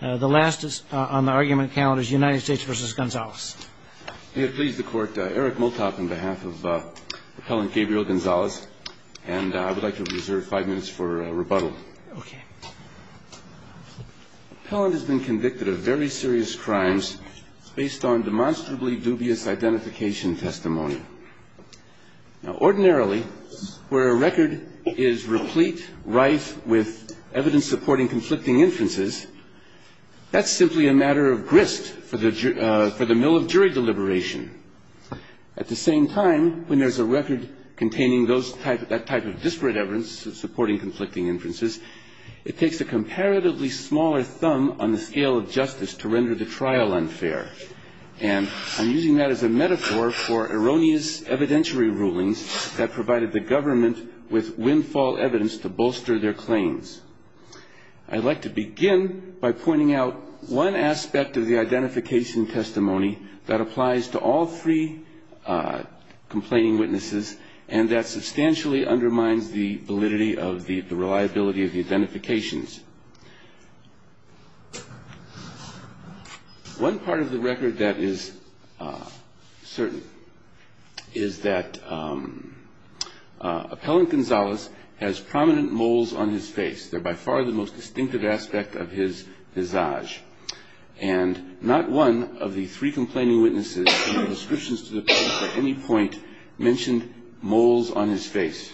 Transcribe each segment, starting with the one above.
The last on the argument count is United States v. Gonzalez. May it please the Court, Eric Motok on behalf of Appellant Gabriel Gonzalez, and I would like to reserve five minutes for rebuttal. Okay. Appellant has been convicted of very serious crimes based on demonstrably dubious identification testimony. Now, ordinarily, where a record is replete, rife with evidence supporting conflicting inferences, that's simply a matter of grist for the mill of jury deliberation. At the same time, when there's a record containing that type of disparate evidence supporting conflicting inferences, it takes a comparatively smaller thumb on the scale of justice to render the trial unfair. And I'm using that as a metaphor for erroneous evidentiary rulings that provided the government with windfall evidence to bolster their claims. I'd like to begin by pointing out one aspect of the identification testimony that applies to all three complaining witnesses and that substantially undermines the validity of the reliability of the identifications. One part of the record that is certain is that Appellant Gonzalez has prominent moles on his face. They're by far the most distinctive aspect of his visage. And not one of the three complaining witnesses in the descriptions to the case at any point mentioned moles on his face.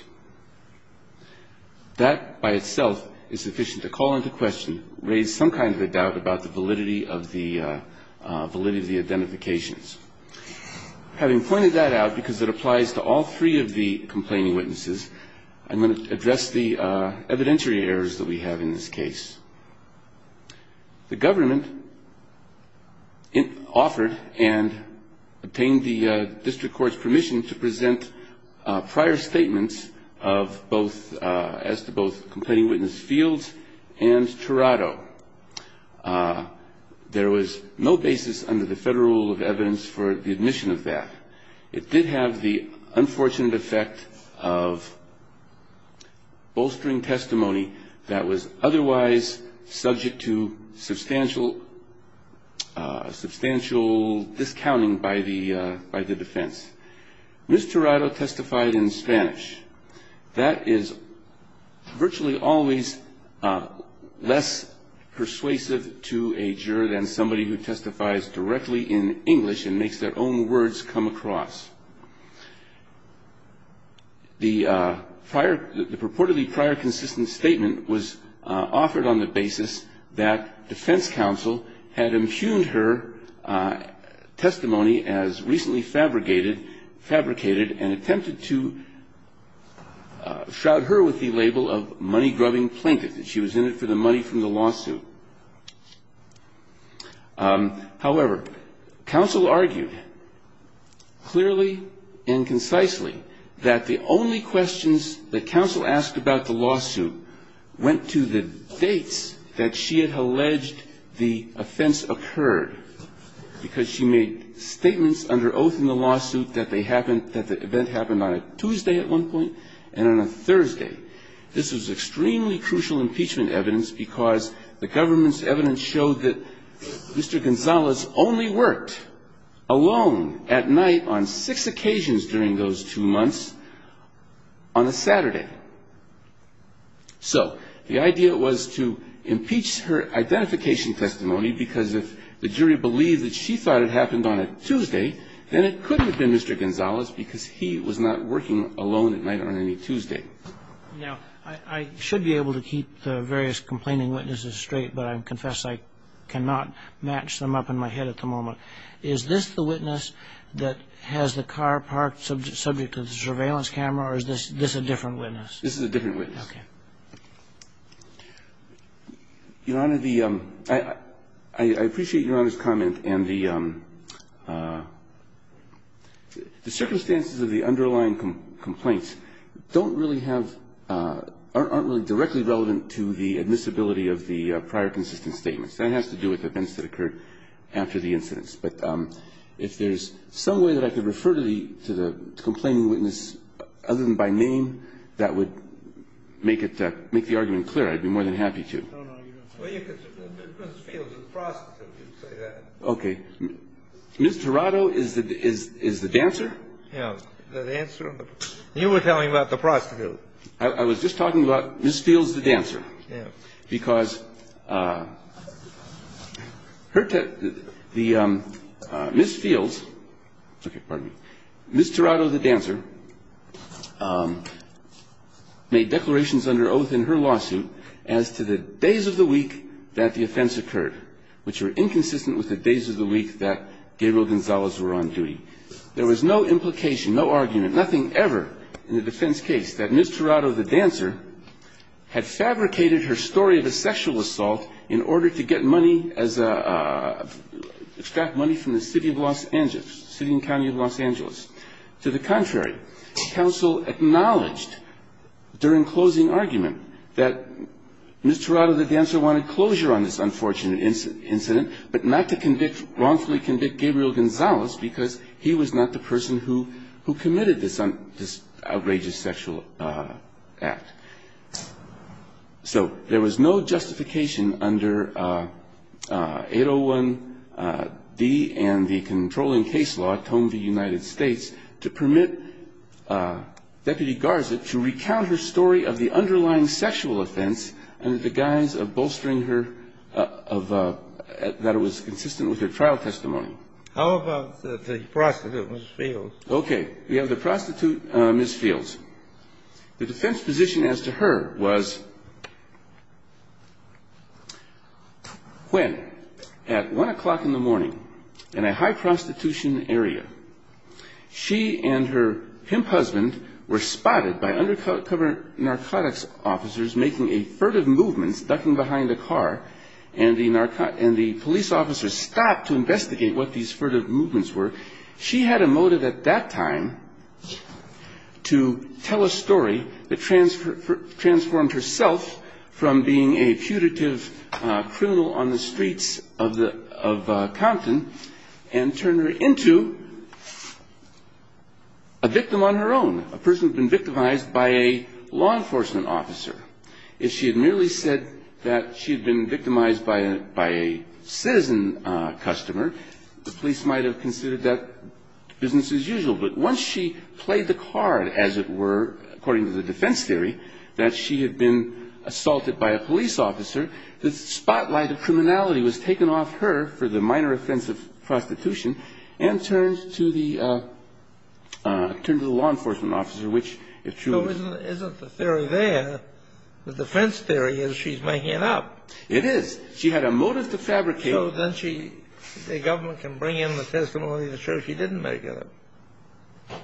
That by itself is sufficient to call into question, raise some kind of a doubt about the validity of the identifications. Having pointed that out because it applies to all three of the complaining witnesses, I'm going to address the evidentiary errors that we have in this case. The government offered and obtained the district court's permission to present prior statements of both, as to both complaining witness Fields and Tirado. There was no basis under the federal rule of evidence for the admission of that. It did have the unfortunate effect of bolstering testimony that was otherwise subject to substantial discounting by the defense. Ms. Tirado testified in Spanish. That is virtually always less persuasive to a juror than somebody who testifies directly in English and makes their own words come across. The purportedly prior consistent statement was offered on the basis that defense counsel had impugned her testimony as recently fabricated and attempted to shroud her with the label of money-grubbing plaintiff, that she was in it for the money from the lawsuit. However, counsel argued clearly and concisely that the only questions that counsel asked about the lawsuit went to the dates that she had alleged the offense occurred, because she made statements under oath in the lawsuit that they happened, that the event happened on a Tuesday at one point and on a Thursday. This was extremely crucial impeachment evidence, because the government's evidence showed that Mr. Gonzalez only worked alone at night on six occasions during those two months on a Saturday. So the idea was to impeach her identification testimony, because if the jury believed that she thought it happened on a Tuesday, then it could have been Mr. Gonzalez because he was not working alone at night on any Tuesday. Now, I should be able to keep the various complaining witnesses straight, but I confess I cannot match them up in my head at the moment. Is this the witness that has the car parked subject to the surveillance camera, or is this a different witness? This is a different witness. Okay. Your Honor, the – I appreciate Your Honor's comment, and the circumstances of the underlying complaints don't really have – aren't really directly relevant to the admissibility of the prior consistent statements. That has to do with events that occurred after the incidents. But if there's some way that I could refer to the complaining witness other than by name, that would make it – make the argument clear. I'd be more than happy to. No, no, you don't have to. Well, you could – Ms. Fields is a prostitute. You could say that. Okay. Ms. Tirado is the – is the dancer? Yeah. The dancer. You were telling me about the prostitute. I was just talking about Ms. Fields, the dancer. Yeah. Because her – the – Ms. Fields – okay, pardon me. Ms. Tirado, the dancer, made declarations under oath in her lawsuit as to the days of the week that the offense occurred, which were inconsistent with the days of the week that Gabriel Gonzalez were on duty. There was no implication, no argument, nothing ever in the defense case that Ms. Tirado, the dancer, had fabricated her story of a sexual assault in order to get money as a – To the contrary, counsel acknowledged during closing argument that Ms. Tirado, the dancer, wanted closure on this unfortunate incident but not to convict – wrongfully convict Gabriel Gonzalez because he was not the person who committed this outrageous sexual act. So there was no justification under 801-D and the controlling case law at home in the United States to permit Deputy Garza to recount her story of the underlying sexual offense under the guise of bolstering her – of – that it was consistent with her trial testimony. How about the prostitute, Ms. Fields? Okay. We have the prostitute, Ms. Fields. The defense position as to her was when at 1 o'clock in the morning in a high prostitution area, she and her pimp husband were spotted by undercover narcotics officers making a furtive movement, ducking behind a car, and the police officers stopped to investigate what these furtive movements were. She had a motive at that time to tell a story that transformed herself from being a putative criminal on the streets of Compton and turn her into a victim on her own, a person who had been victimized by a law enforcement officer. If she had merely said that she had been victimized by a citizen customer, the police might have considered that business as usual. But once she played the card, as it were, according to the defense theory, that she had been assaulted by a police officer, the spotlight of criminality was taken off her for the minor offense of prostitution and turned to the law enforcement officer, which, if true – And isn't the theory there, the defense theory, is she's making it up? It is. She had a motive to fabricate. So then she – the government can bring in the testimony to show she didn't make it up.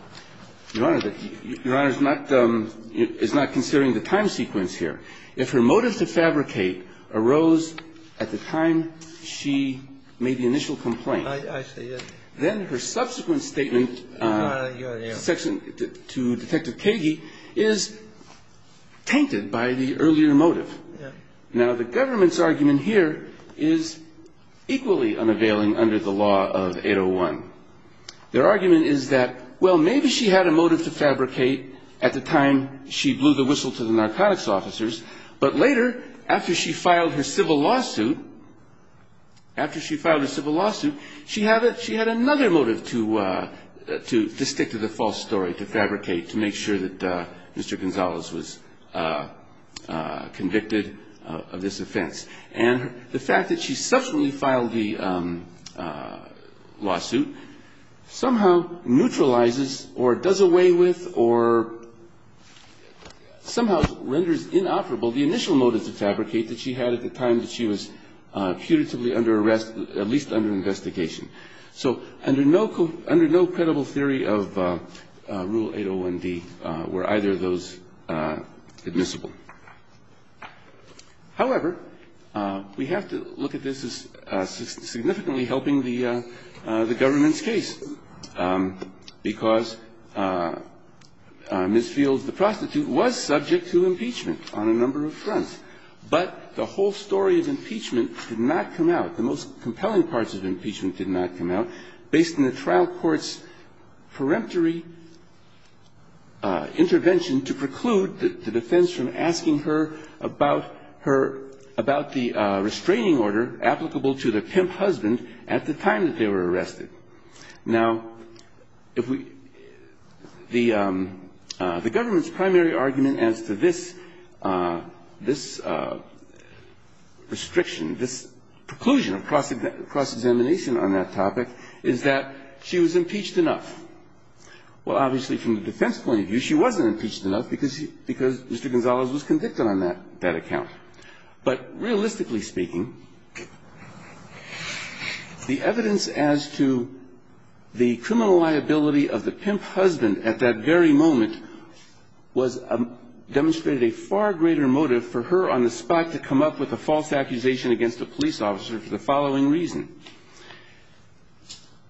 Your Honor, the – Your Honor is not – is not considering the time sequence here. If her motive to fabricate arose at the time she made the initial complaint – I see. Then her subsequent statement to Detective Kagey is tainted by the earlier motive. Yeah. Now, the government's argument here is equally unavailing under the law of 801. Their argument is that, well, maybe she had a motive to fabricate at the time she blew the whistle to the narcotics officers, but later, after she filed her civil lawsuit – after she filed her civil lawsuit, she had another motive to stick to the false story, to fabricate, to make sure that Mr. Gonzalez was convicted of this offense. And the fact that she subsequently filed the lawsuit somehow neutralizes or does away with or somehow renders inoperable the initial motive to fabricate that she had at the time that she was putatively under arrest, at least under investigation. So under no – under no credible theory of Rule 801D were either of those admissible. However, we have to look at this as significantly helping the government's case, because Ms. Fields, the prostitute, was subject to impeachment on a number of fronts. But the whole story of impeachment did not come out, the most compelling parts of impeachment did not come out, based on the trial court's peremptory intervention to preclude the defense from asking her about her – about the restraining order applicable to the pimp husband at the time that they were arrested. Now, if we – the government's primary argument as to this – this restriction, this preclusion of cross-examination on that topic is that she was impeached enough. Well, obviously, from the defense point of view, she wasn't impeached enough because Mr. Gonzalez was convicted on that account. But realistically speaking, the evidence as to the criminal liability of the pimp husband at that very moment was – demonstrated a far greater motive for her on the spot to come up with a false accusation against a police officer for the following reason.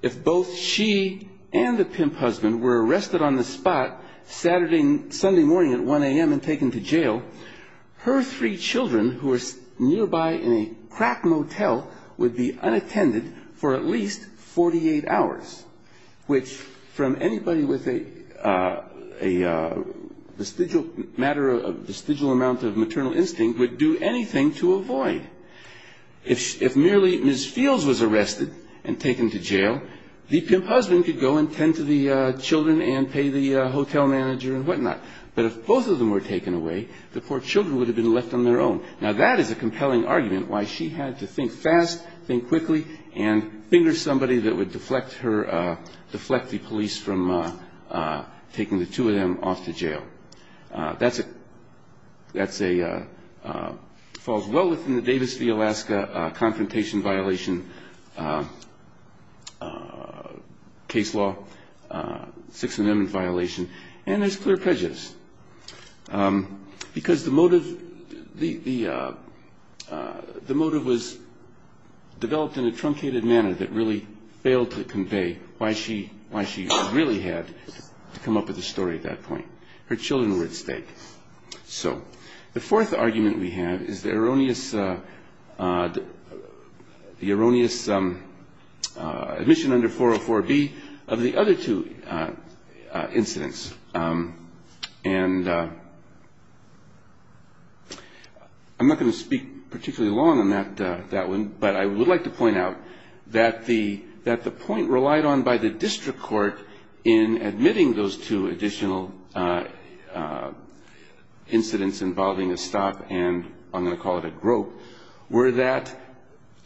If both she and the pimp husband were arrested on the spot, Saturday – Sunday morning at 1 a.m. and taken to jail, her three children who were nearby in a crack motel would be unattended for at least 48 hours, which from anybody with a vestigial matter – a vestigial amount of maternal instinct would do anything to avoid. If merely Ms. Fields was arrested and taken to jail, the pimp husband could go and tend to the children and pay the hotel manager and whatnot. But if both of them were taken away, the poor children would have been left on their own. Now, that is a compelling argument why she had to think fast, think quickly, and finger somebody that would deflect her – deflect the police from taking the two of them off to jail. That's a – that's a – falls well within the Davis v. Alaska Confrontation Violation case law, Sixth Amendment violation, and there's clear prejudice. Because the motive – the motive was developed in a truncated manner that really failed to convey why she – why she really had to come up with a story at that point. Her children were at stake. So the fourth argument we have is the erroneous – the erroneous admission under 404B of the other two incidents. And I'm not going to speak particularly long on that one, but I would like to point out that the – that the point relied on by the district court in admitting those two additional incidents involving a stop and, I'm going to call it a grope, were that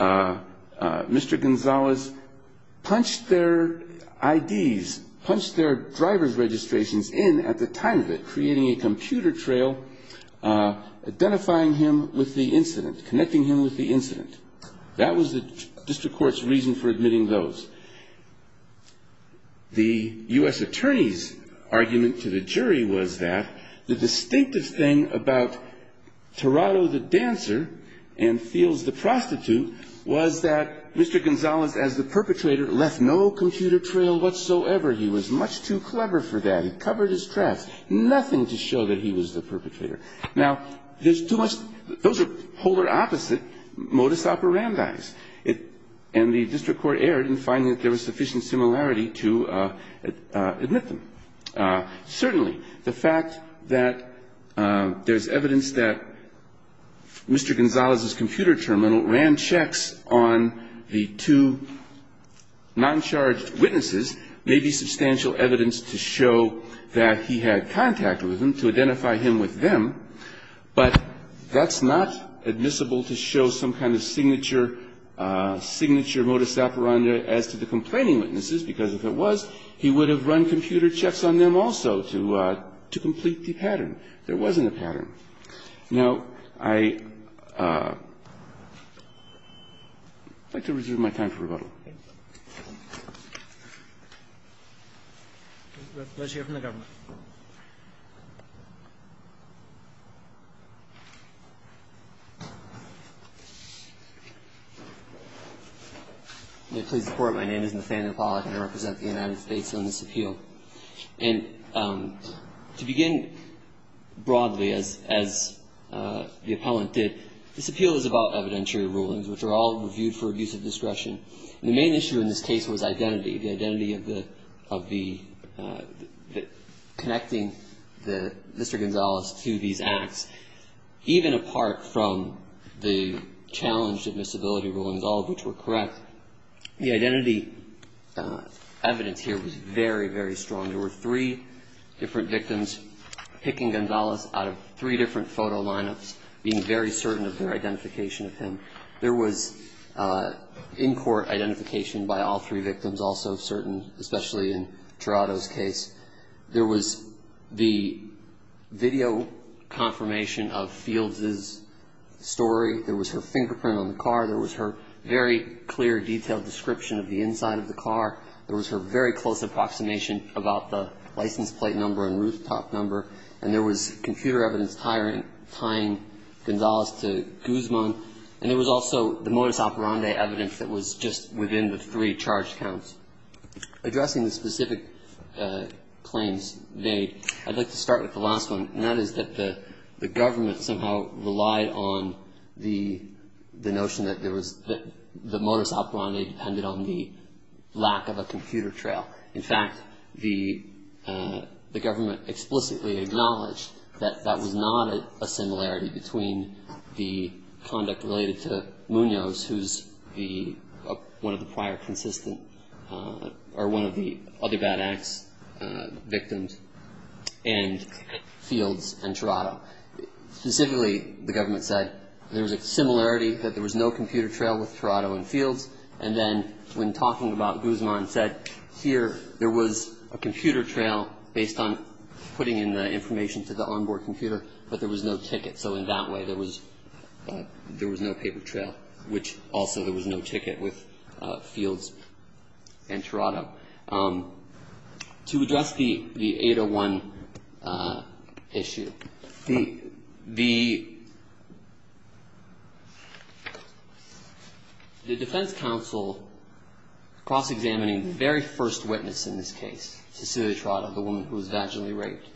Mr. Gonzalez punched their IDs, punched their driver's registrations in at the time of it, creating a computer trail identifying him with the incident, connecting him with the incident. That was the district court's reason for admitting those. The U.S. attorney's argument to the jury was that the distinctive thing about Tirado the dancer and Fields the prostitute was that Mr. Gonzalez as the perpetrator left no computer trail whatsoever. He was much too clever for that. It covered his traps. Nothing to show that he was the perpetrator. Now, there's too much – those are polar opposite modus operandi. And the district court erred in finding that there was sufficient similarity to admit them. Certainly, the fact that there's evidence that Mr. Gonzalez's computer terminal ran checks on the two noncharged witnesses may be substantial evidence to show that he had contact with them, to identify him with them, but that's not admissible to show some kind of signature modus operandi as to the complaining witnesses, because if it was, he would have run computer checks on them also to complete the pattern. There wasn't a pattern. Now, I'd like to reserve my time for rebuttal. Thank you. Let's hear from the government. May it please the Court. My name is Nathaniel Pollack, and I represent the United States on this appeal. And to begin broadly, as the appellant did, this appeal is about evidentiary rulings, which are all reviewed for abuse of discretion. The main issue in this case was identity, the identity of the – connecting Mr. Gonzalez to these acts, even apart from the challenge of admissibility rulings, all of which were correct. The identity evidence here was very, very strong. There were three different victims picking Gonzalez out of three different photo lineups, being very certain of their identification of him. There was in-court identification by all three victims also certain, especially in Gerardo's case. There was the video confirmation of Fields' story. There was her fingerprint on the car. There was her very clear, detailed description of the inside of the car. There was her very close approximation about the license plate number and rooftop number. And there was computer evidence tying Gonzalez to Guzman. And there was also the modus operandi evidence that was just within the three charged counts. Addressing the specific claims made, I'd like to start with the last one, and that is that the government somehow relied on the notion that there was – that the modus operandi depended on the lack of a computer trail. In fact, the government explicitly acknowledged that that was not a similarity between the conduct related to Munoz, who's one of the prior consistent – or one of the other bad acts victims, and Fields and Gerardo. Specifically, the government said there was a similarity, that there was no computer trail with Gerardo and Fields. And then when talking about Guzman said, here there was a computer trail based on putting in the information to the onboard computer, but there was no ticket, so in that way there was no paper trail, which also there was no ticket with Fields and Gerardo. To address the 801 issue, the defense counsel cross-examining the very first witness in this case, Cecilia Trotta, the woman who was vaginally raped,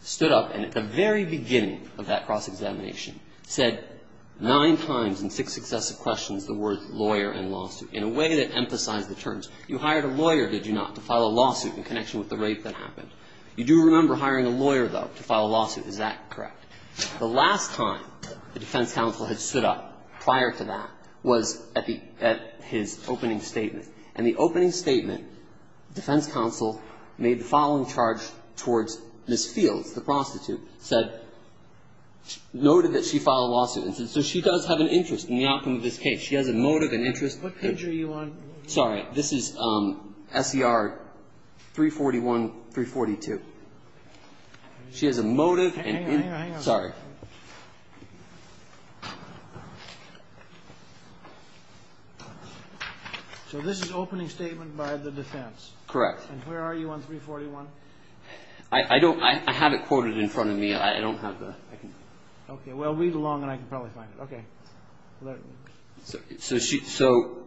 stood up, and at the very beginning of that cross-examination said nine times in six successive questions the words lawyer and lawsuit in a way that emphasized the terms. You hired a lawyer, did you not, to file a lawsuit in connection with the rape that happened? You do remember hiring a lawyer, though, to file a lawsuit. Is that correct? The last time the defense counsel had stood up prior to that was at the – at his opening statement. And the opening statement, defense counsel made the following charge towards Ms. Fields, the prostitute, said – noted that she filed a lawsuit and said, so she does have an interest in the outcome of this case. She has a motive, an interest. What picture are you on? Sorry. This is SCR 341, 342. She has a motive and – Hang on, hang on, hang on. Sorry. So this is opening statement by the defense. Correct. And where are you on 341? I don't – I have it quoted in front of me. I don't have the – Okay. Well, read along and I can probably find it. Okay. So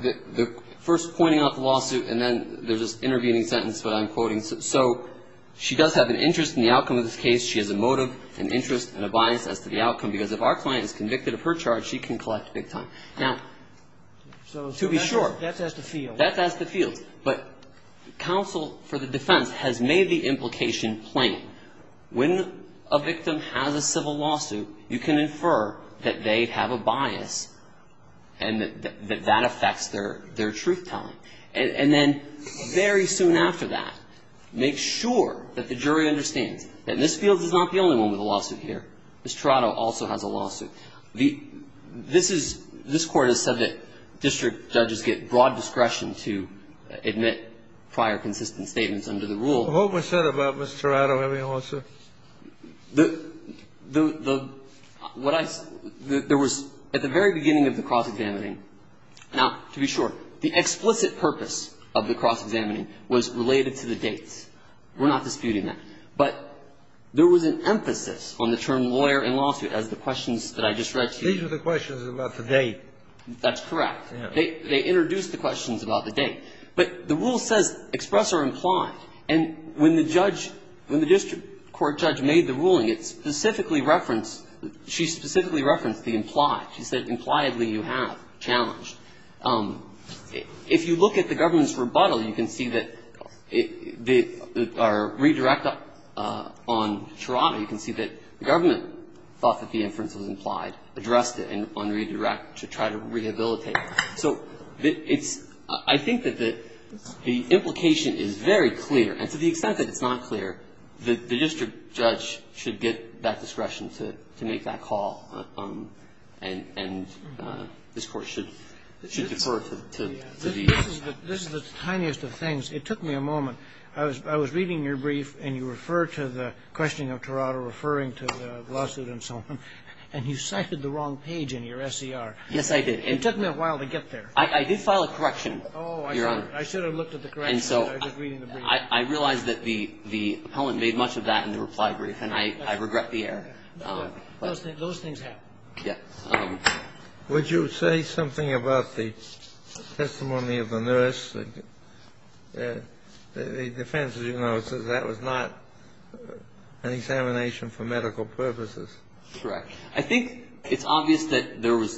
the first pointing out the lawsuit and then there's this intervening sentence that I'm quoting. So she does have an interest in the outcome of this case. She has a motive, an interest, and a bias as to the outcome, because if our client is convicted of her charge, she can collect big time. Now, to be sure. That's as to Fields. That's as to Fields. But counsel for the defense has made the implication plain. When a victim has a civil lawsuit, you can infer that they have a bias and that that affects their truth telling. And then very soon after that, make sure that the jury understands that Ms. Fields is not the only one with a lawsuit here. Ms. Tirado also has a lawsuit. This is – this Court has said that district judges get broad discretion to admit prior consistent statements under the rule. What was said about Ms. Tirado having a lawsuit? The – what I – there was at the very beginning of the cross-examining – now, to be sure, the explicit purpose of the cross-examining was related to the dates. We're not disputing that. But there was an emphasis on the term lawyer in lawsuit as the questions that I just read to you. These were the questions about the date. That's correct. They introduced the questions about the date. But the rule says express or implied. And when the judge – when the district court judge made the ruling, it specifically referenced – she specifically referenced the implied. She said impliedly you have challenged. If you look at the government's rebuttal, you can see that the – or redirect on Tirado, you can see that the government thought that the inference was implied, addressed it, and on redirect to try to rehabilitate. So it's – I think that the implication is very clear. And to the extent that it's not clear, the district judge should get that discretion to make that call. And this Court should defer to these. This is the tiniest of things. It took me a moment. I was reading your brief, and you referred to the questioning of Tirado, referring to the lawsuit and so on. And you cited the wrong page in your SCR. Yes, I did. It took me a while to get there. I did file a correction, Your Honor. Oh, I should have looked at the correction. I was just reading the brief. And so I realized that the appellant made much of that in the reply brief, and I regret the error. Those things happen. Yes. Would you say something about the testimony of the nurse? The defense, as you know, says that was not an examination for medical purposes. Correct. I think it's obvious that there was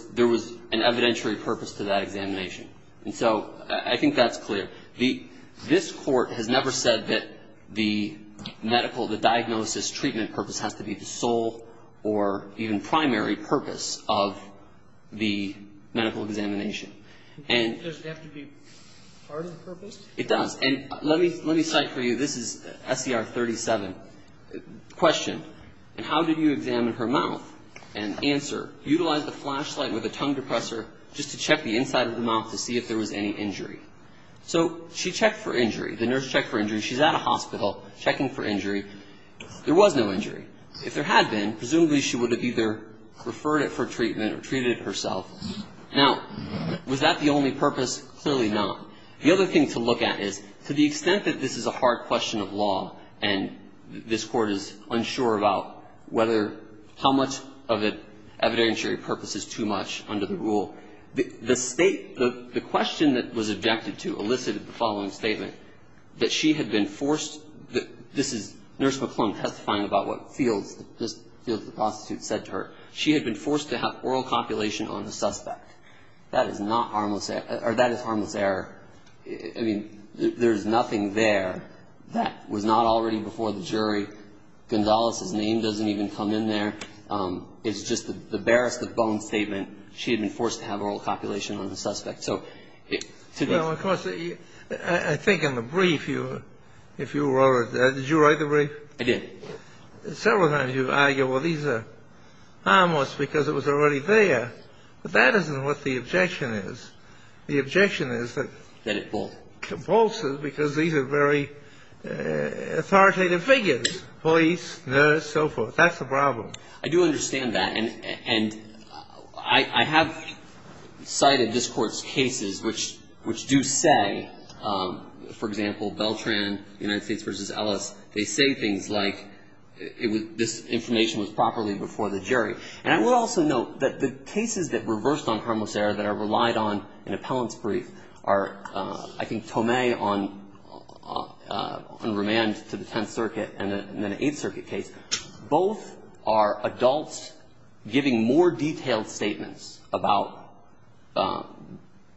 an evidentiary purpose to that examination. And so I think that's clear. This Court has never said that the medical, the diagnosis treatment purpose has to be the sole or even primary purpose of the medical examination. Does it have to be part of the purpose? It does. And let me cite for you, this is SCR 37. Question, and how did you examine her mouth? And answer, utilize the flashlight with a tongue depressor just to check the inside of the mouth to see if there was any injury. So she checked for injury. The nurse checked for injury. She's at a hospital checking for injury. There was no injury. If there had been, presumably she would have either referred it for treatment or treated it herself. Now, was that the only purpose? Clearly not. The other thing to look at is to the extent that this is a hard question of law and this Court is unsure about whether, how much of the evidentiary purpose is too much under the rule, the State, the question that was objected to elicited the following statement, that she had been forced, this is Nurse McClellan testifying about what Fields, just Fields the prostitute, said to her. She had been forced to have oral copulation on the suspect. That is not harmless, or that is harmless error. I mean, there's nothing there. That was not already before the jury. Gonzalez's name doesn't even come in there. It's just the barest of bone statement. She had been forced to have oral copulation on the suspect. So to be ---- Well, of course, I think in the brief you, if you wrote it, did you write the brief? I did. Several times you argue, well, these are harmless because it was already there. But that isn't what the objection is. The objection is that it compulses because these are very authoritative figures, police, nurse, so forth. That's the problem. I do understand that. And I have cited this Court's cases which do say, for example, Beltran, United States v. Ellis, they say things like this information was properly before the jury. And I will also note that the cases that reversed on harmless error that are relied on in appellant's brief are, I think, Tomei on remand to the Tenth Circuit and then an Eighth Circuit case. Both are adults giving more detailed statements about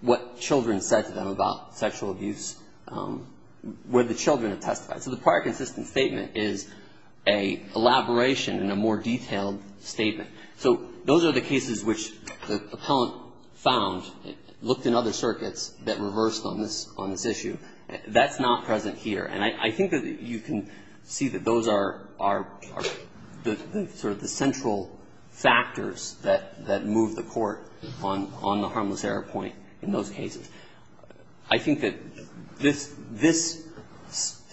what children said to them about sexual abuse where the children have testified. So the prior consistent statement is an elaboration and a more detailed statement. So those are the cases which the appellant found, looked in other circuits that reversed on this issue. That's not present here. And I think that you can see that those are sort of the central factors that move the Court on the harmless error point in those cases. I think that this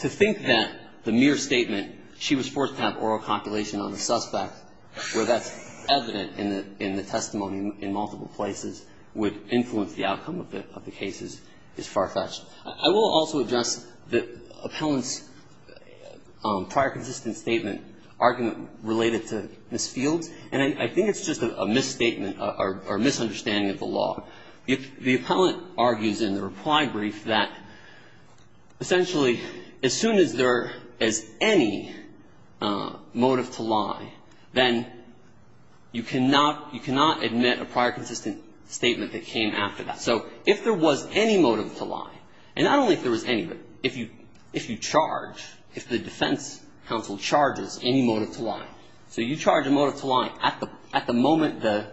to think that the mere statement, she was forced to have oral copulation on the suspect, where that's evident in the testimony in multiple places, would influence the outcome of the cases is far-fetched. I will also address the appellant's prior consistent statement argument related to Ms. Fields. And I think it's just a misstatement or misunderstanding of the law. The appellant argues in the reply brief that essentially as soon as there is any motive to lie, then you cannot admit a prior consistent statement that came after that. So if there was any motive to lie, and not only if there was any, but if you charge, if the defense counsel charges any motive to lie, so you charge a motive to lie at the moment the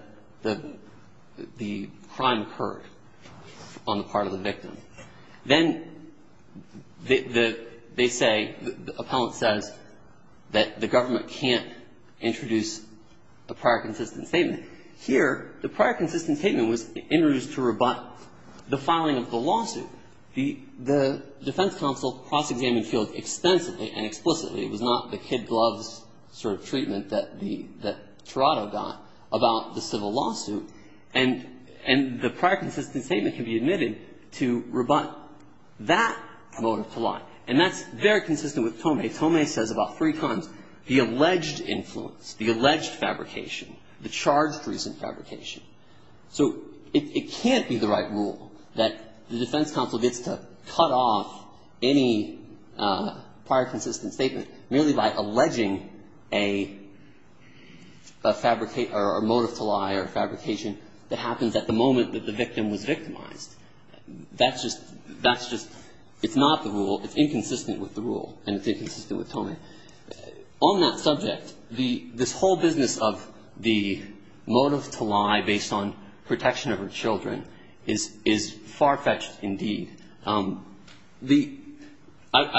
crime occurred on the part of the victim, then they say, the appellant says that the government can't introduce a prior consistent statement. Here, the prior consistent statement was introduced to rebut the filing of the lawsuit. The defense counsel cross-examined Fields extensively and explicitly. It was not the kid gloves sort of treatment that the ‑‑ that Toronto got about the civil lawsuit. And the prior consistent statement can be admitted to rebut that motive to lie. And that's very consistent with Tomei. Tomei says about three times, the alleged influence, the alleged fabrication, the charged recent fabrication. So it can't be the right rule that the defense counsel gets to cut off any prior consistent statement merely by alleging a fabricate or motive to lie or fabrication that happens at the moment that the victim was victimized. That's just ‑‑ that's just ‑‑ it's not the rule. It's inconsistent with the rule. And it's inconsistent with Tomei. And on that subject, this whole business of the motive to lie based on protection of her children is far-fetched indeed. I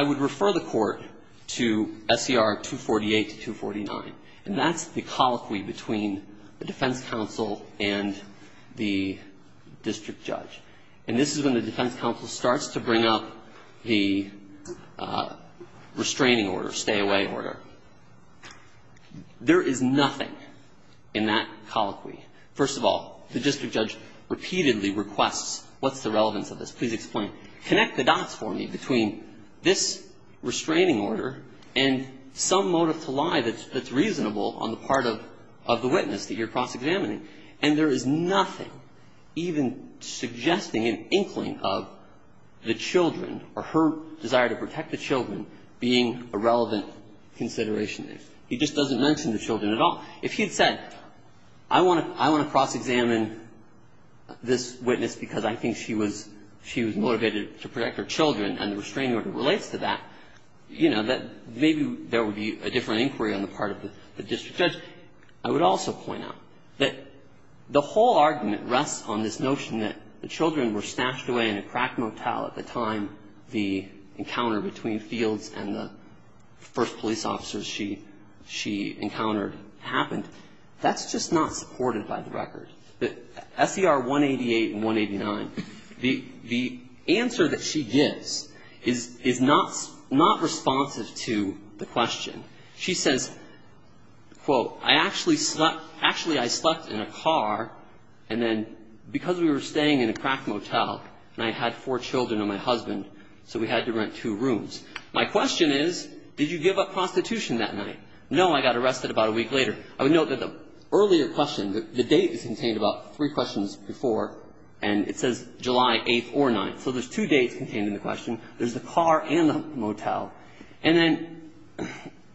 would refer the Court to SCR 248 to 249. And that's the colloquy between the defense counsel and the district judge. And this is when the defense counsel starts to bring up the restraining order, stay-away order. There is nothing in that colloquy. First of all, the district judge repeatedly requests, what's the relevance of this? Please explain. Connect the dots for me between this restraining order and some motive to lie that's reasonable on the part of the witness that you're cross-examining. And there is nothing even suggesting an inkling of the children or her desire to protect the children being a relevant consideration. He just doesn't mention the children at all. If he had said, I want to cross-examine this witness because I think she was ‑‑ she was motivated to protect her children, and the restraining order relates to that, you know, that maybe there would be a different inquiry on the part of the district judge. I would also point out that the whole argument rests on this notion that the children were snatched away in a crack motel at the time the encounter between Fields and the first police officers she encountered happened. That's just not supported by the record. The SCR 188 and 189, the answer that she gives is not responsive to the question. She says, quote, I actually slept ‑‑ actually I slept in a car, and then because we were staying in a crack motel, and I had four children and my husband, so we had to rent two rooms. My question is, did you give up prostitution that night? No, I got arrested about a week later. I would note that the earlier question, the date is contained about three questions before, and it says July 8th or 9th. So there's two dates contained in the question. There's the car and the motel. And then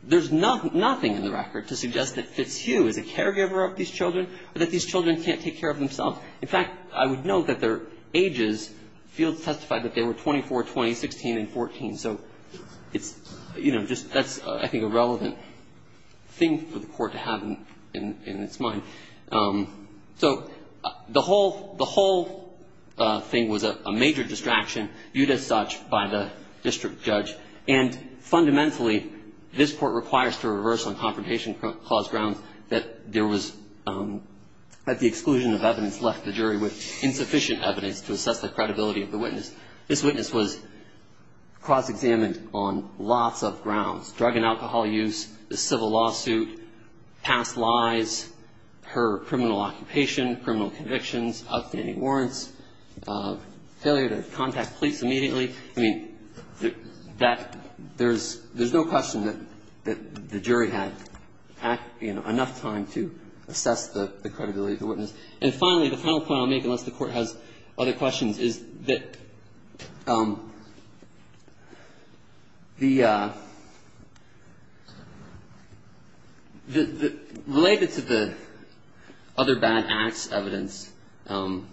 there's nothing in the record to suggest that Fitzhugh is a caregiver of these children or that these children can't take care of themselves. In fact, I would note that their ages, Fields testified that they were 24, 20, 16, and 14. So it's, you know, just ‑‑ that's, I think, a relevant thing for the Court to have in its mind. So the whole thing was a major distraction, viewed as such by the district judge. And fundamentally, this Court requires to reverse on confrontation cause grounds that there was, that the exclusion of evidence left the jury with insufficient evidence to assess the credibility of the witness. This witness was cross‑examined on lots of grounds. Drug and alcohol use, the civil lawsuit, past lies, her criminal occupation, criminal convictions, outstanding warrants, failure to contact police immediately. I mean, that ‑‑ there's no question that the jury had, you know, enough time to assess the credibility of the witness. And finally, the final point I'll make, unless the Court has other questions, is that the, related to the other bad acts evidence, the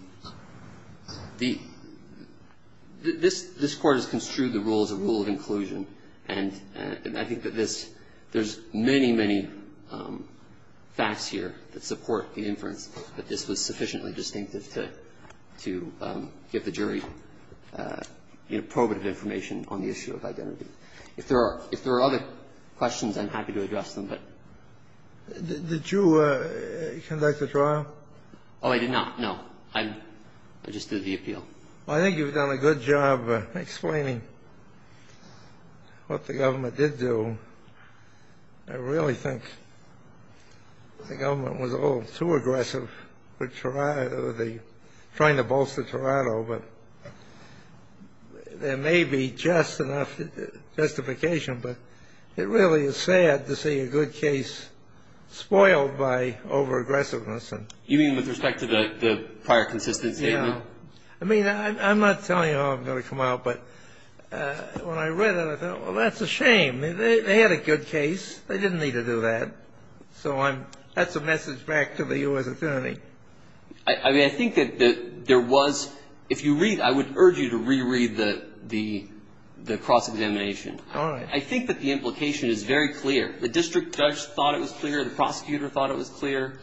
‑‑ this Court has construed the rule as a rule of inclusion. And I think that this ‑‑ there's many, many facts here that support the inference that this was sufficiently distinctive to give the jury, you know, probative information on the issue of identity. If there are other questions, I'm happy to address them, but ‑‑ Did you conduct the trial? Oh, I did not, no. I just did the appeal. I think you've done a good job explaining what the government did do. I really think the government was a little too aggressive with trying to bolster Toronto, but there may be just enough justification, but it really is sad to see a good case spoiled by over-aggressiveness. You mean with respect to the prior consistency? Yeah. I mean, I'm not telling you how it's going to come out, but when I read it, I thought, well, that's a shame. They had a good case. They didn't need to do that. So I'm ‑‑ that's a message back to the U.S. Attorney. I mean, I think that there was ‑‑ if you read, I would urge you to reread the cross-examination I think that the implication is very clear. The district judge thought it was clear. The prosecutor thought it was clear.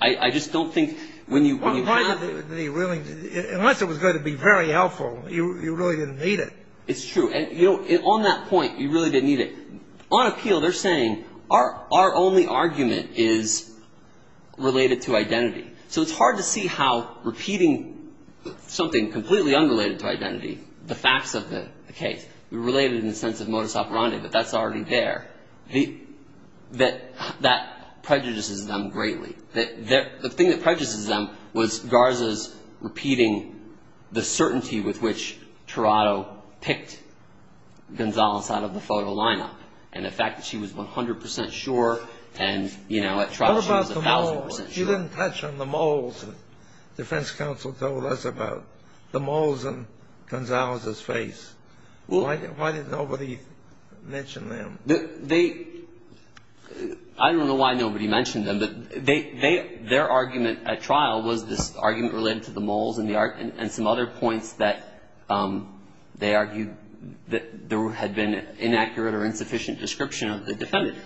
I just don't think when you have ‑‑ Unless it was going to be very helpful, you really didn't need it. It's true. And on that point, you really didn't need it. On appeal, they're saying our only argument is related to identity. So it's hard to see how repeating something completely unrelated to identity, the facts of the case, related in the sense of modus operandi, but that's already there, that that prejudices them greatly. The thing that prejudices them was Garza's repeating the certainty with which Toronto picked Gonzales out of the photo lineup. And the fact that she was 100% sure and, you know, at trial she was 1,000% sure. What about the moles? You didn't touch on the moles. The defense counsel told us about the moles in Gonzales's face. Why didn't nobody mention them? I don't know why nobody mentioned them, but their argument at trial was this argument related to the moles and some other points that they argued that there had been inaccurate or insufficient description of the defendant.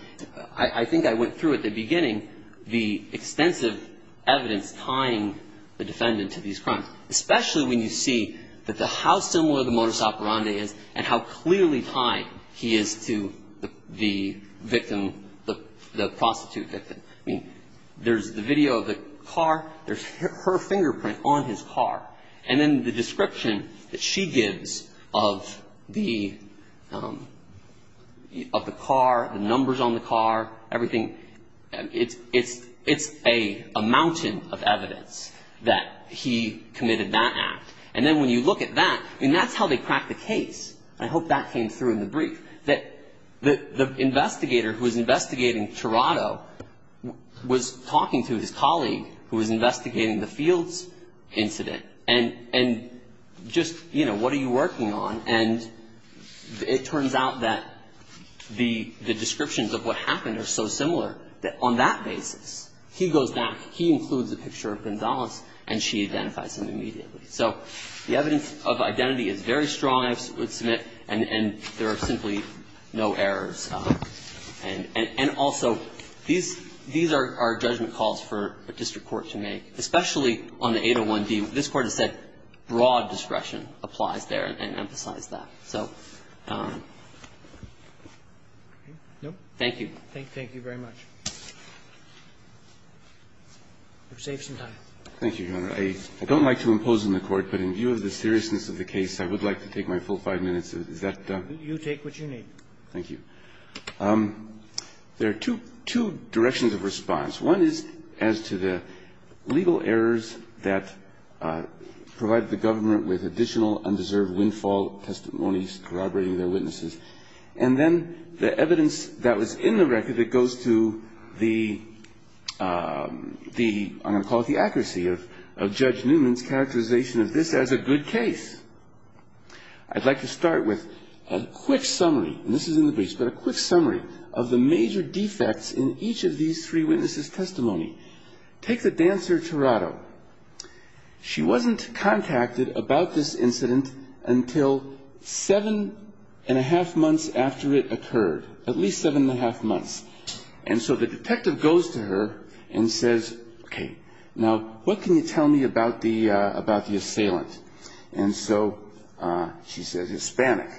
I think I went through at the beginning the extensive evidence tying the defendant to these crimes, especially when you see how similar the modus operandi is and how clearly tied he is to the victim, the prostitute victim. I mean, there's the video of the car. There's her fingerprint on his car. And then the description that she gives of the car, the numbers on the car, everything. It's a mountain of evidence that he committed that act. And then when you look at that, I mean, that's how they cracked the case. I hope that came through in the brief, that the investigator who was investigating Toronto was talking to his colleague who was investigating the Fields incident. And just, you know, what are you working on? And it turns out that the descriptions of what happened are so similar that it's hard to tell. But it's clear that on that basis, he goes back, he includes a picture of Gonzalez, and she identifies him immediately. So the evidence of identity is very strong, I would submit, and there are simply no errors. And also, these are judgment calls for a district court to make, especially on the 801d. This Court has said broad discretion applies there and emphasized that. So thank you. Thank you very much. You've saved some time. Thank you, Your Honor. I don't like to impose on the Court, but in view of the seriousness of the case, I would like to take my full five minutes. You take what you need. Thank you. There are two directions of response. One is as to the legal errors that provided the government with additional undeserved windfall testimonies corroborating their witnesses. And then the evidence that was in the record that goes to the, I'm going to call it the accuracy of Judge Newman's characterization of this as a good case. I'd like to start with a quick summary, and this is in the briefs, but a quick summary of the major defects in each of these three witnesses' testimony. Take the dancer Tirado. She wasn't contacted about this incident until seven-and-a-half months after it occurred, at least seven-and-a-half months. And so the detective goes to her and says, okay, now what can you tell me about the assailant? And so she says, Hispanic.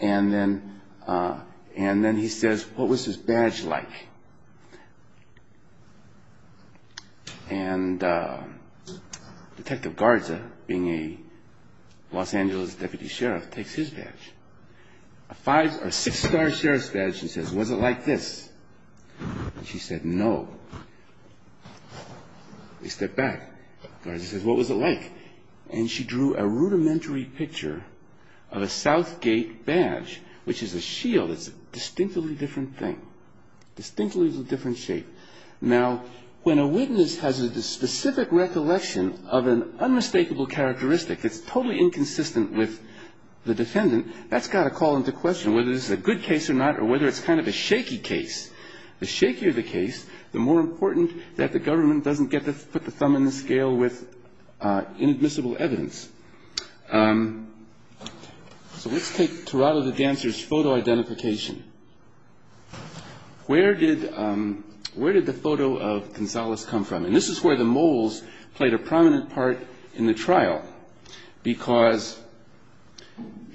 And then he says, what was his badge like? And Detective Garza, being a Los Angeles deputy sheriff, takes his badge, a five- or six-star sheriff's badge, and says, was it like this? She said, no. He stepped back. Garza says, what was it like? And she drew a rudimentary picture of a Southgate badge, which is a shield. It's a distinctly different thing, distinctly a different shape. Now, when a witness has a specific recollection of an unmistakable characteristic that's totally inconsistent with the defendant, that's got to call into question whether this is a good case or not, or whether it's kind of a shaky case. The shakier the case, the more important that the government doesn't get to put the thumb in the scale with inadmissible evidence. So let's take Tirado the dancer's photo identification. Where did the photo of Gonzales come from? And this is where the moles played a prominent part in the trial, because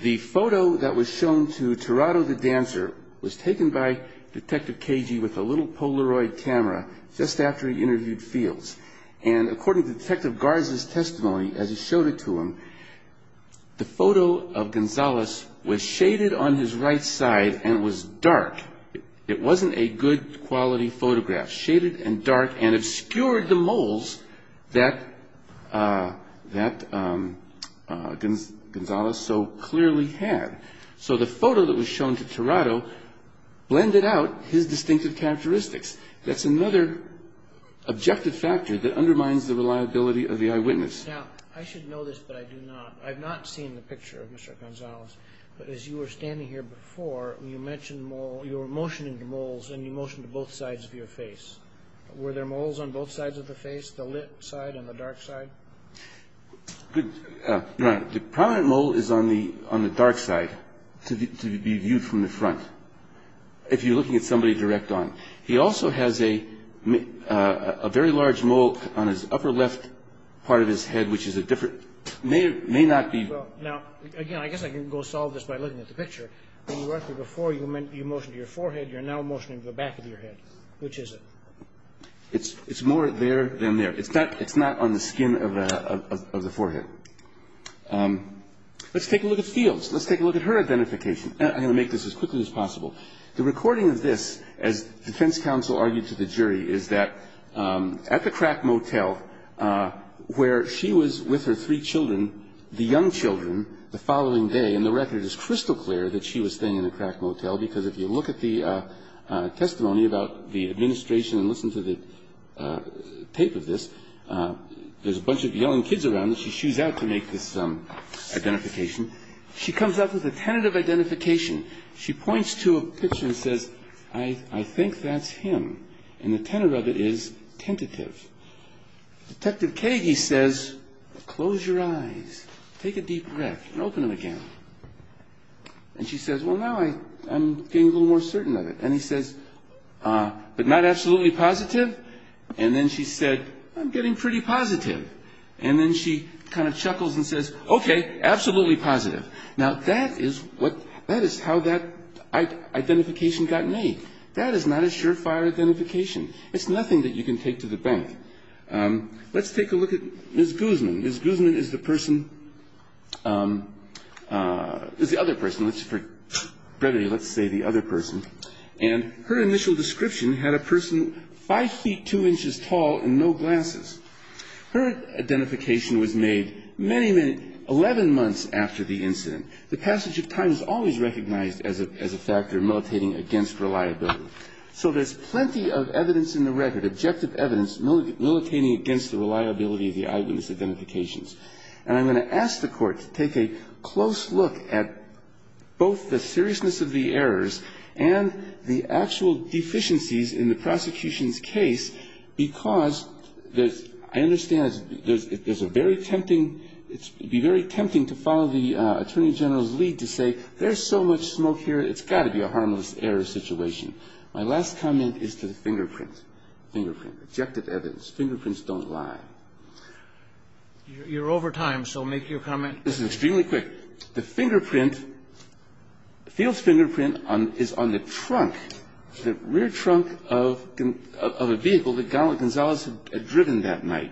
the photo that was shown to Tirado the dancer was taken by Detective Cagey with a little Polaroid camera just after he interviewed Fields. And according to Detective Garza's testimony, as he showed it to him, the photo of Gonzales was shaded on his right side and was dark. It wasn't a good quality photograph, shaded and dark and obscured the moles that Gonzales so clearly had. So the photo that was shown to Tirado blended out his distinctive characteristics. That's another objective factor that undermines the reliability of the eyewitness. Now, I should know this, but I do not. I've not seen the picture of Mr. Gonzales. But as you were standing here before, you mentioned moles. You were motioning to moles, and you motioned to both sides of your face. Were there moles on both sides of the face, the lit side and the dark side? Your Honor, the prominent mole is on the dark side to be viewed from the front, if you're looking at somebody direct on. He also has a very large mole on his upper left part of his head, which is a different, may not be. Now, again, I guess I can go solve this by looking at the picture. When you were up here before, you motioned to your forehead. You're now motioning to the back of your head. Which is it? It's more there than there. It's not on the skin of the forehead. Let's take a look at Fields. Let's take a look at her identification. I'm going to make this as quickly as possible. The recording of this, as defense counsel argued to the jury, is that at the crack motel, where she was with her three children, the young children, the following day, and the record is crystal clear that she was staying in the crack motel, because if you look at the testimony about the administration and listen to the tape of this, there's a bunch of yelling kids around, and she shoes out to make this identification. She comes up with a tentative identification. She points to a picture and says, I think that's him. And the tenor of it is tentative. Detective Kagey says, close your eyes, take a deep breath, and open them again. And she says, well, now I'm getting a little more certain of it. And he says, but not absolutely positive? And then she said, I'm getting pretty positive. And then she kind of chuckles and says, okay, absolutely positive. Now, that is how that identification got made. That is not a surefire identification. It's nothing that you can take to the bank. Let's take a look at Ms. Guzman. Ms. Guzman is the person, is the other person. Let's say the other person. And her initial description had a person 5 feet 2 inches tall and no glasses. Her identification was made many, many 11 months after the incident. The passage of time is always recognized as a factor militating against reliability. So there's plenty of evidence in the record, objective evidence, militating against the reliability of the eyewitness identifications. And I'm going to ask the Court to take a close look at both the seriousness of the errors and the actual deficiencies in the prosecution's case, because I understand there's a very tempting, it would be very tempting to follow the Attorney General's lead to say, there's so much smoke here, it's got to be a harmless error situation. My last comment is to the fingerprint, fingerprint, objective evidence. Fingerprints don't lie. You're over time, so make your comment. This is extremely quick. The fingerprint, Field's fingerprint is on the trunk, the rear trunk of a vehicle that Gonzales had driven that night.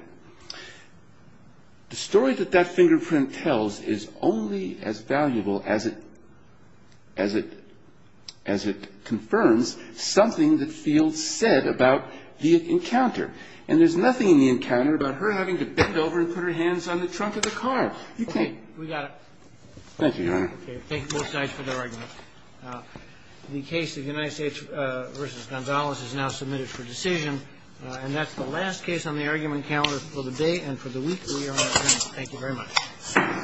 The story that that fingerprint tells is only as valuable as it, as it, as it confirms something that Field said about the encounter. And there's nothing in the encounter about her having to bend over and put her hands on the trunk of the car. You can't. We got it. Thank you, Your Honor. Thank you both sides for the argument. The case of United States v. Gonzales is now submitted for decision. And that's the last case on the argument calendar for the day and for the week. We are adjourned. Thank you very much.